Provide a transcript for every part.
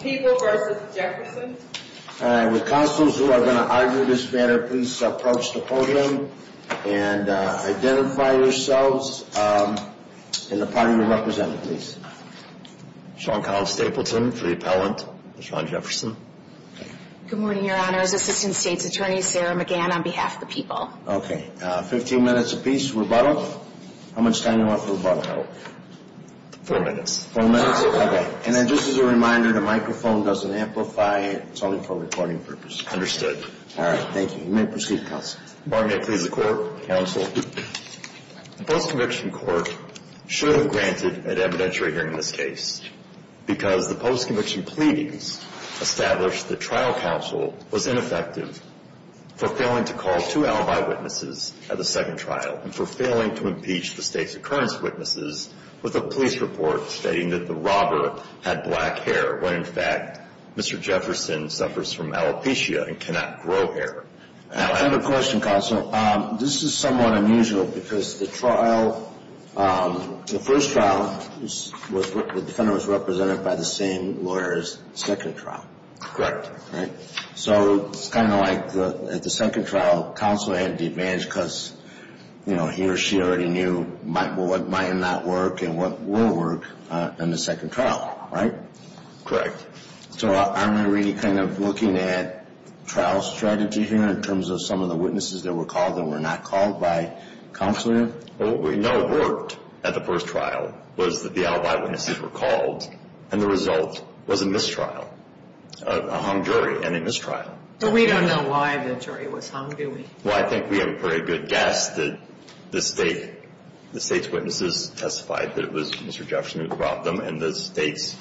People v. Jefferson With constables who are going to argue this matter, please approach the podium and identify yourselves and the party you're representing, please. Sean Collins Stapleton for the appellant. Sean Jefferson. Good morning, Your Honors. Assistant States Attorney Sarah McGann on behalf of the people. Okay, 15 minutes apiece, rebuttal. How much time do you want for rebuttal? Four minutes. Four minutes? Okay. And then just as a reminder, the microphone doesn't amplify, it's only for recording purposes. Understood. All right, thank you. You may proceed, counsel. Martin, may I please the court? Counsel. The post-conviction court should have granted an evidentiary hearing in this case because the post-conviction pleadings established that trial counsel was ineffective for failing to call two alibi witnesses at the second trial and for failing to impeach the state's occurrence witnesses with a police report stating that the robber had black hair when, in fact, Mr. Jefferson suffers from alopecia and cannot grow hair. I have a question, counsel. This is somewhat unusual because the trial, the first trial, the defendant was represented by the same lawyer as the second trial. Correct. Right? So it's kind of like at the second trial, counsel had the advantage because, you know, he or she already knew what might or might not work and what will work in the second trial, right? Correct. So are we really kind of looking at trial strategy here in terms of some of the witnesses that were called that were not called by counsel? What we know worked at the first trial was that the alibi witnesses were called and the result was a mistrial, a hung jury and a mistrial. But we don't know why the jury was hung, do we? Well, I think we have a very good guess that the state's witnesses testified that it was Mr. Jefferson who robbed them and the state's,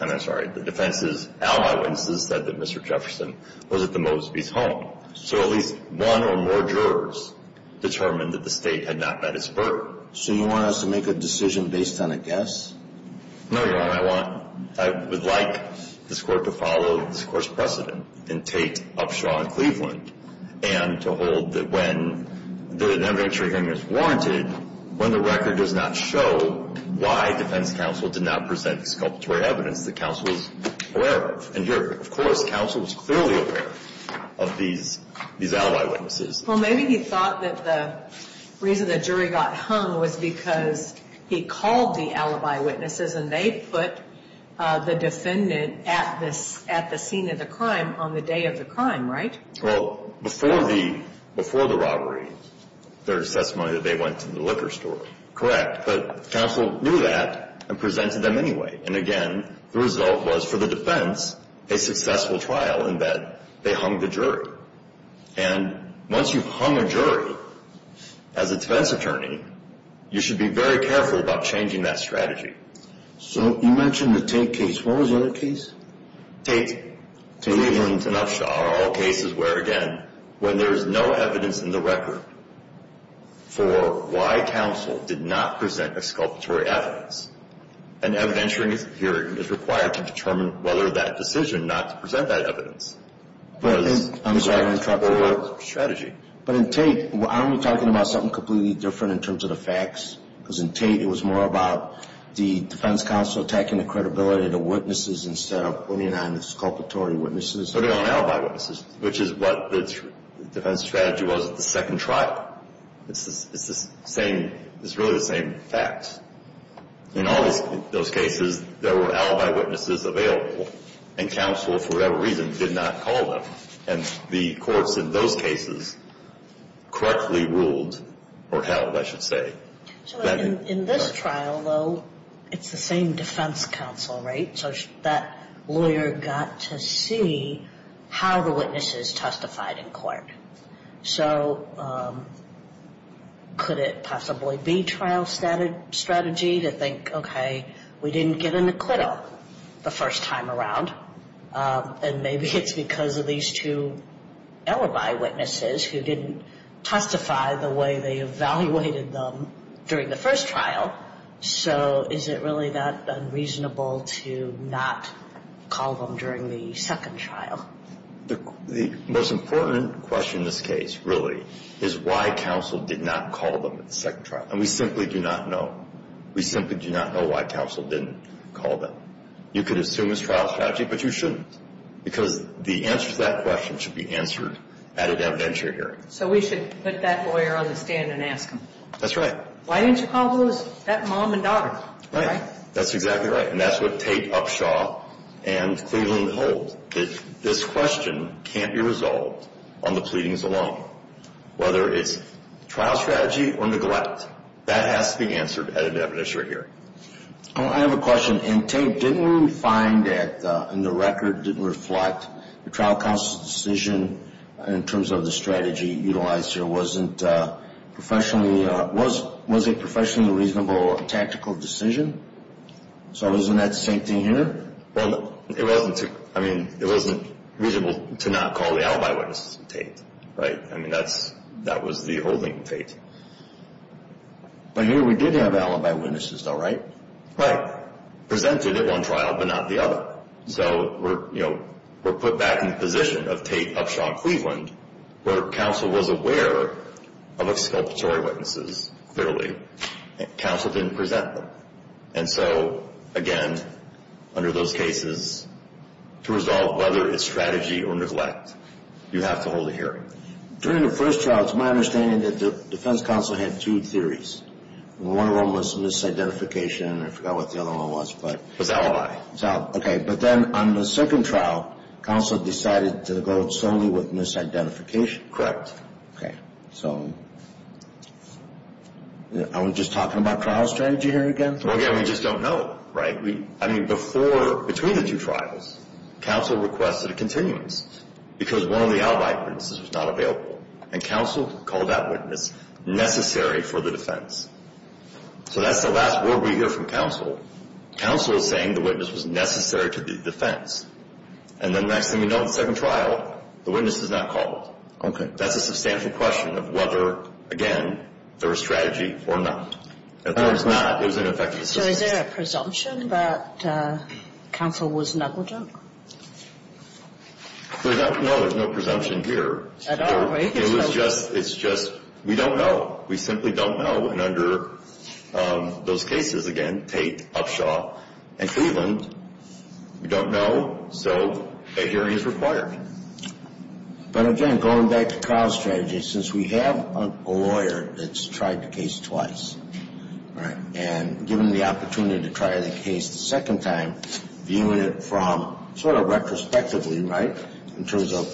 I'm sorry, the defense's alibi witnesses said that Mr. Jefferson was at the Moseby's home. So at least one or more jurors determined that the state had not met its burden. So you want us to make a decision based on a guess? No, Your Honor. I want, I would like this Court to follow this Court's precedent and take Upshaw and Cleveland and to hold that when the evidentiary hearing is warranted, when the record does not show why defense counsel did not present the sculptural evidence that counsel was aware of. And here, of course, counsel was clearly aware of these alibi witnesses. Well, maybe he thought that the reason the jury got hung was because he called the alibi witnesses and they put the defendant at the scene of the crime on the day of the crime, right? Well, before the robbery, their testimony that they went to the liquor store, correct. But counsel knew that and presented them anyway. And again, the result was for the defense, a successful trial in that they hung the jury. And once you've hung a jury as a defense attorney, you should be very careful about changing that strategy. So you mentioned the Tate case. What was the other case? Tate. Cleveland and Upshaw are all cases where, again, when there is no evidence in the record for why counsel did not present a sculptural evidence, an evidentiary hearing is required to determine whether that decision not to present that evidence was correct for strategy. But in Tate, aren't we talking about something completely different in terms of the facts? Because in Tate, it was more about the defense counsel attacking the credibility of the witnesses instead of putting on the sculptural witnesses? Putting on alibi witnesses, which is what the defense strategy was at the second trial. It's the same, it's really the same facts. In all those cases, there were alibi witnesses available and counsel, for whatever reason, did not call them. And the courts in those cases correctly ruled or held, I should say. So in this trial, though, it's the same defense counsel, right? So that lawyer got to see how the witnesses testified in court. So could it possibly be trial strategy to think, okay, we didn't get an acquittal the first time around, and maybe it's because of these two alibi witnesses who didn't testify the way they evaluated them during the first trial. So is it really that unreasonable to not call them during the second trial? The most important question in this case, really, is why counsel did not call them during the second trial. And we simply do not know. We simply do not know why counsel didn't call them. You could assume it's trial strategy, but you shouldn't, because the answer to that question should be answered at an evidentiary hearing. So we should put that lawyer on the stand and ask him. That's right. Why didn't you call those, that mom and daughter? Right. That's exactly right. And that's what Tate, Upshaw, and Cleveland hold, that this question can't be resolved on the pleadings alone, whether it's trial strategy or neglect. That has to be answered at an evidentiary hearing. Oh, I have a question. And Tate, didn't we find that, in the record, didn't reflect the trial counsel's decision in terms of the strategy utilized here? Was it professionally reasonable or a tactical decision? So isn't that the same thing here? Well, it wasn't. I mean, it wasn't reasonable to not call the alibi witnesses in Tate, right? I mean, that's, that was the holding in Tate. But here we did have alibi witnesses though, right? Right. Presented at one trial, but not the other. So we're, you know, we're put back in the position of Tate, Upshaw, and Cleveland, where counsel was aware of exculpatory witnesses, clearly. Counsel didn't present them. And so, again, under those cases, to resolve whether it's strategy or neglect, you have to hold a hearing. During the first trial, it's my understanding that the defense counsel had two theories. One of them was misidentification, and I forgot what the other one was, but... Was alibi. Okay. But then on the second trial, counsel decided to go solely with misidentification. Correct. Okay. So, are we just talking about trial strategy here again? Well, again, we just don't know, right? I mean, before, between the two trials, counsel requested a continuance, because one of the alibi witnesses was not available. And counsel called that witness necessary for the defense. So that's the last word we hear from counsel. Counsel is saying the witness was necessary to the defense. And the next thing we know, the second trial, the witness is not called. That's a substantial question of whether, again, there was strategy or not. If there was not, it was an effective assistance. So is there a presumption that counsel was negligent? We don't know. There's no presumption here. At all, right? It was just, it's just, we don't know. We simply don't know. And under those cases, again, Tate, Upshaw, and Cleveland, we don't know. So a hearing is required. Right. But again, going back to trial strategy, since we have a lawyer that's tried the case twice, right, and given the opportunity to try the case the second time, viewing it from sort of retrospectively, right, in terms of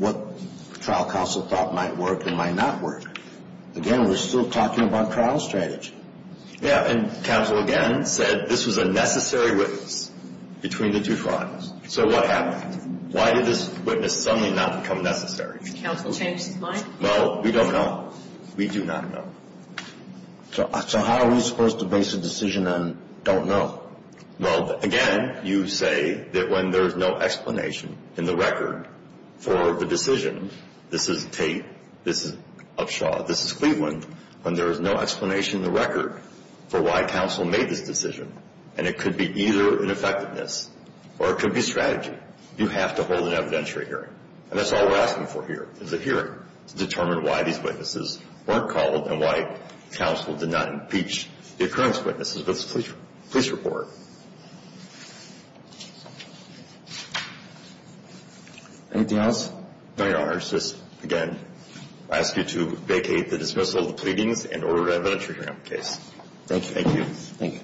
what trial counsel thought might work and might not work. Again, we're still talking about trial strategy. Yeah. And counsel, again, said this was a necessary witness between the two trials. So what happened? Why did this witness suddenly not become necessary? Counsel changed his mind? Well, we don't know. We do not know. So how are we supposed to base a decision on don't know? Well, again, you say that when there's no explanation in the record for the decision, this is Tate, this is Upshaw, this is Cleveland, when there is no explanation in the record for why counsel made this decision. And it could be either ineffectiveness or it could be strategy. You have to hold an evidentiary hearing. And that's all we're asking for here is a hearing to determine why these witnesses weren't called and why counsel did not impeach the occurrence witnesses of this police report. Anything else? No, Your Honor. It's just, again, I ask you to vacate the dismissal of the case. Thank you. Thank you.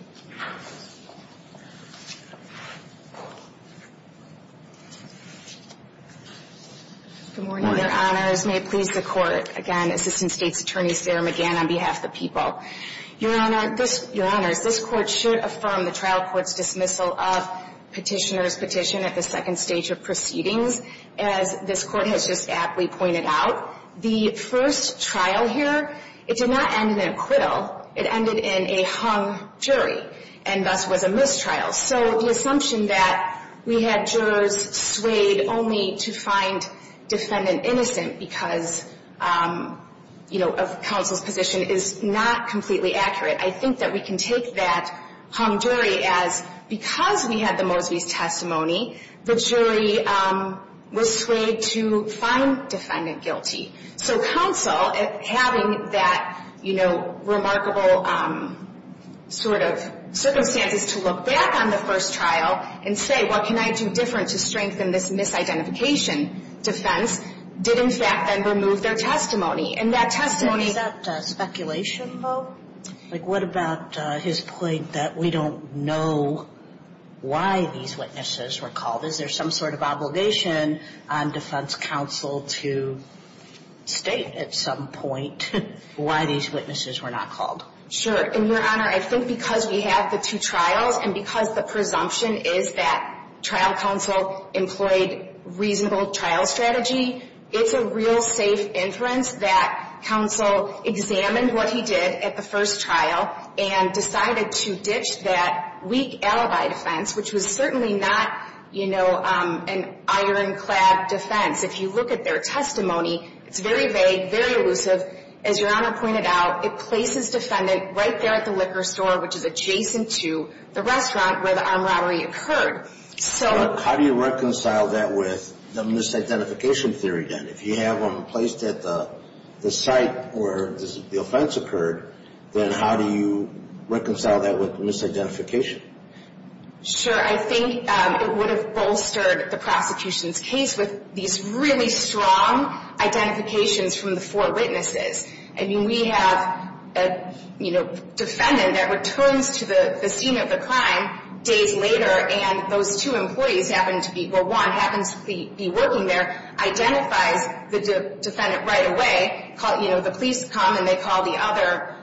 Good morning, Your Honors. May it please the Court. Again, Assistant State's Attorney, Sarah McGann, on behalf of the people. Your Honors, this Court should affirm the trial court's dismissal of Petitioner's Petition at the second stage of proceedings, as this Court has just aptly pointed out. The first trial here, it did not end in an acquittal. It ended in a hung jury and thus was a mistrial. So the assumption that we had jurors swayed only to find defendant innocent because, you know, of counsel's position is not completely accurate. I think that we can take that hung jury as because we had the that, you know, remarkable sort of circumstances to look back on the first trial and say, what can I do different to strengthen this misidentification defense? Did, in fact, then remove their testimony. And that testimony... Is that speculation, though? Like, what about his point that we don't know why these witnesses were called? Is there some sort of obligation on defense counsel to state at some point why these witnesses were not called? Sure. And, Your Honor, I think because we have the two trials and because the presumption is that trial counsel employed reasonable trial strategy, it's a real safe inference that counsel examined what he did at the first trial and decided to ditch that weak alibi defense, which was certainly not, you know, an ironclad defense. If you look at their testimony, it's very vague, very elusive. As Your Honor pointed out, it places defendant right there at the liquor store, which is adjacent to the restaurant where the armed robbery occurred. So... How do you reconcile that with the misidentification theory, then? If you have them placed at the site where the offense occurred, then how do you reconcile that with misidentification? Sure. I think it would have bolstered the prosecution's case with these really strong identifications from the four witnesses. I mean, we have a, you know, defendant that returns to the scene of the crime days later, and those two employees happen to be, well, one happens to be working there, identifies the defendant right away, you know, the police come and they call the other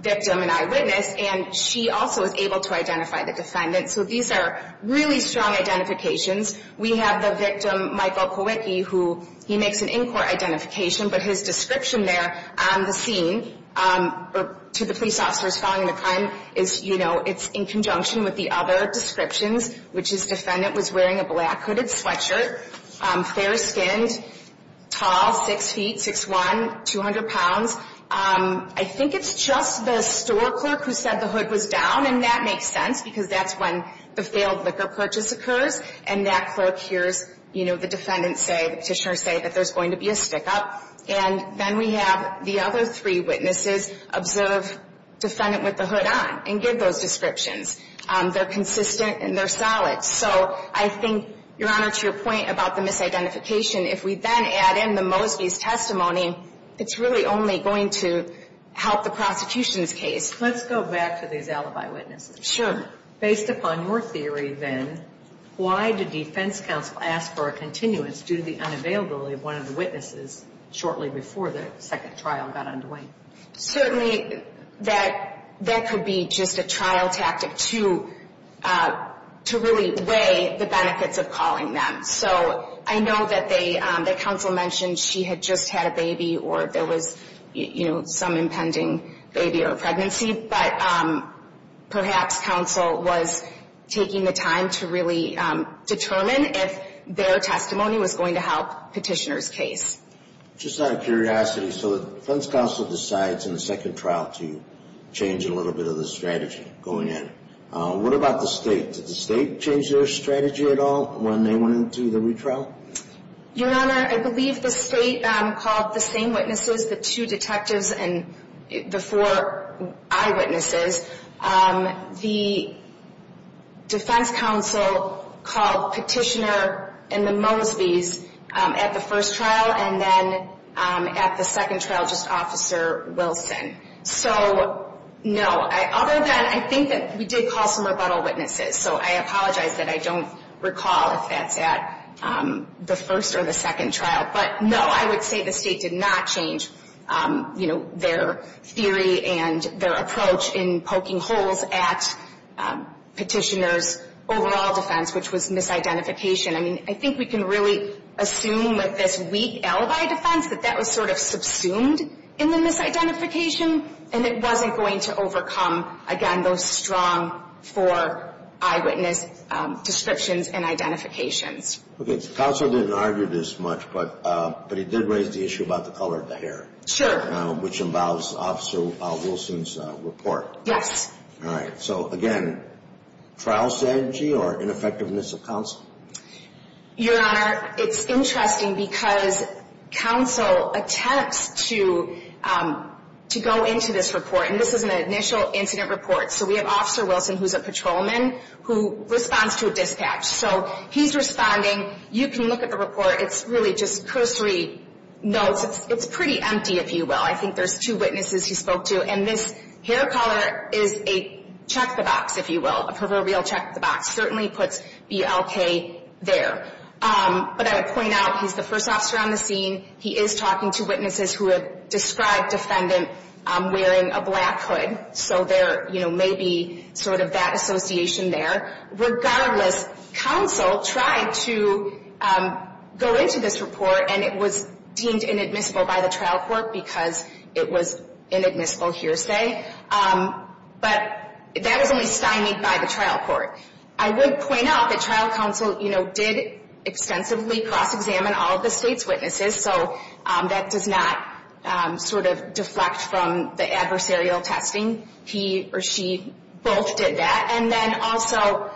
victim an eyewitness, and she also is able to identify the defendant. So these are really strong identifications. We have the victim, Michael Kowicki, who he makes an in-court identification, but his description there on the scene to the police officers following the crime is, you know, it's in conjunction with the other descriptions, which is defendant was wearing a black hooded sweatshirt, fair-skinned, tall, six feet, 6'1", 200 pounds. I think it's just the store clerk who said the hood was down, and that makes sense, because that's when the failed liquor purchase occurs, and that clerk hears, you know, the defendant say, the petitioner say that there's going to be a stick-up, and then we have the other three witnesses observe defendant with the hood on and give those descriptions. They're consistent and they're solid. So I think, Your Honor, to your point about the misidentification, if we then add in the Mosby's testimony, it's really only going to help the alibi witnesses. Sure. Based upon your theory, then, why did defense counsel ask for a continuance due to the unavailability of one of the witnesses shortly before the second trial got underway? Certainly, that could be just a trial tactic to really weigh the benefits of calling them. So I know that they, that counsel mentioned she had just had a baby or there was, you know, some impending baby or pregnancy, but perhaps counsel was taking the time to really determine if their testimony was going to help petitioner's case. Just out of curiosity, so the defense counsel decides in the second trial to change a little bit of the strategy going in. What about the state? Did the state change their strategy at all when they went into the retrial? Your Honor, I believe the state called the same witnesses, the two detectives and the four eyewitnesses. The defense counsel called petitioner and the Mosby's at the first trial and then at the second trial just Officer Wilson. So no, other than I think that we did call some rebuttal witnesses, so I know I would say the state did not change, you know, their theory and their approach in poking holes at petitioner's overall defense, which was misidentification. I mean, I think we can really assume with this weak alibi defense that that was sort of subsumed in the misidentification and it wasn't going to overcome, again, those strong four eyewitness descriptions and but it did raise the issue about the color of the hair. Sure. Which involves Officer Wilson's report. Yes. All right. So again, trial strategy or ineffectiveness of counsel? Your Honor, it's interesting because counsel attempts to go into this report and this is an initial incident report. So we have Officer Wilson, who's a patrolman, who responds to a dispatch. So he's responding. You can look at the report. It's really just cursory notes. It's pretty empty, if you will. I think there's two witnesses he spoke to and this hair color is a check the box, if you will, a proverbial check the box. Certainly puts BLK there. But I would point out he's the first officer on the scene. He is talking to witnesses who have described defendant wearing a black hood. So there, you know, may be sort of that association there. Regardless, counsel tried to go into this report and it was deemed inadmissible by the trial court because it was inadmissible hearsay. But that was only stymied by the trial court. I would point out that trial counsel, you know, did extensively cross-examine all of the state's witnesses. So that does not sort of deflect from the adversarial testing. He or she both did that. And then also,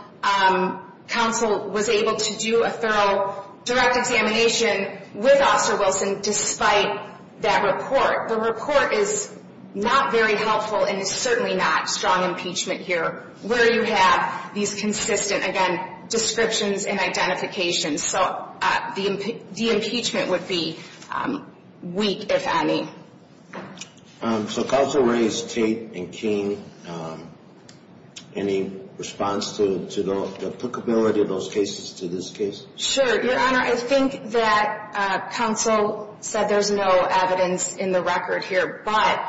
counsel was able to do a thorough direct examination with Officer Wilson despite that report. The report is not very helpful and it's certainly not strong impeachment here where you have these consistent, again, descriptions and identifications. So the impeachment would be weak, if any. So counsel raised Tate and King. Any response to the applicability of those cases to this case? Sure. Your Honor, I think that counsel said there's no evidence in the record here. But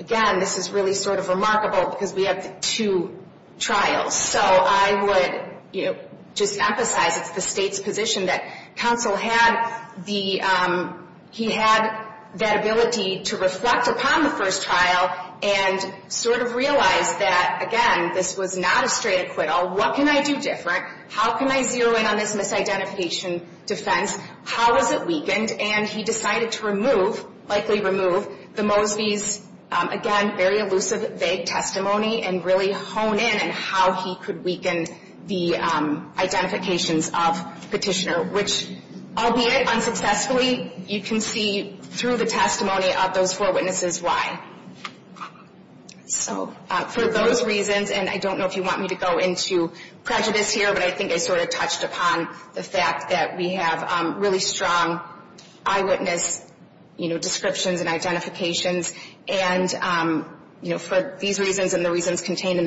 again, this is really sort of remarkable because we have two trials. So I would, you know, just emphasize it's the state's position that counsel had the, he had that ability to reflect upon the first trial and sort of realize that, again, this was not a straight acquittal. What can I do different? How can I zero in on this misidentification defense? How is it weakened? And he decided to remove, likely remove, the Mosby's, again, very elusive, vague testimony and really hone in on how he could weaken the identifications of Petitioner, which, albeit unsuccessfully, you can see through the testimony of those four witnesses why. So for those reasons, and I don't know if you want me to go into prejudice here, but I think I sort of touched upon the fact that we have really strong eyewitness descriptions and the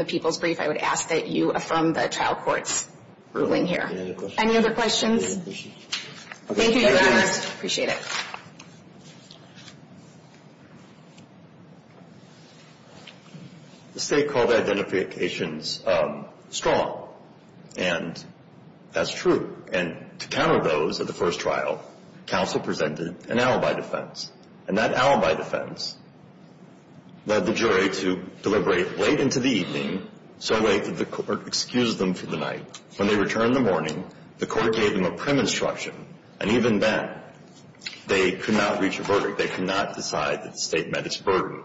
people's brief, I would ask that you affirm the trial court's ruling here. Any other questions? Thank you, Your Honor. Appreciate it. The state called the identifications strong. And that's true. And to counter those at the first trial, counsel presented an alibi defense. And that alibi defense led the jury to deliberate late into the evening, so late that the court excused them for the night. When they returned in the morning, the court gave them a prim instruction. And even then, they could not reach a verdict. They could not decide that the state met its burden.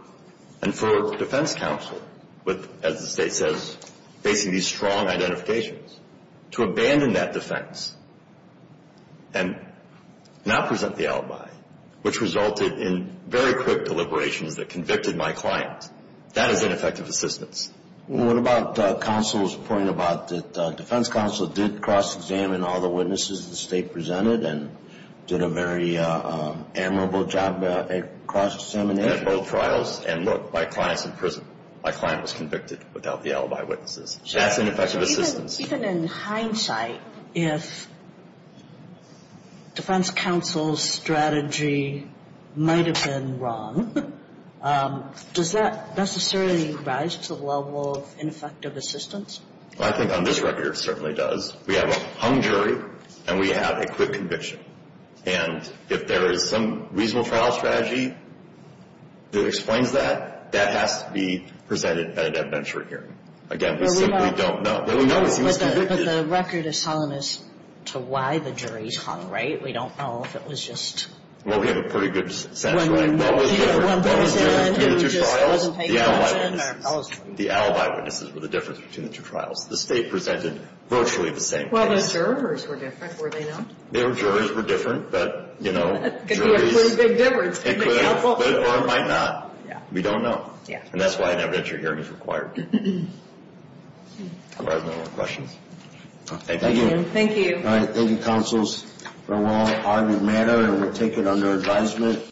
And for defense counsel, with, as the state says, facing these strong identifications, to abandon that defense and not present the alibi, which resulted in very quick deliberations that convicted my client, that is ineffective assistance. What about counsel's point about that defense counsel did cross-examine all the witnesses the state presented and did a very admirable job at cross-examination? At both trials. And look, my client's in prison. My client was convicted without the alibi witnesses. That's ineffective assistance. Even in hindsight, if defense counsel's strategy might have been wrong, does that necessarily rise to the level of ineffective assistance? Well, I think on this record, it certainly does. We have a hung jury, and we have a quick conviction. And if there is some reasonable trial strategy that explains that, that has to be convicted. But the record is telling us to why the jury's hung, right? We don't know if it was just... Well, we have a pretty good sense, right? When one person who just wasn't paying attention... The alibi witnesses were the difference between the two trials. The state presented virtually the same case. Well, the jurors were different, were they not? Their jurors were different, but, you know, juries... Could be a pretty big difference. Could be helpful. Or it might not. We don't know. And that's why an evidentiary hearing is required. All right. No more questions? Thank you. Thank you. All right. Thank you, counsels. For a long-argued matter, and we'll take it under advisement.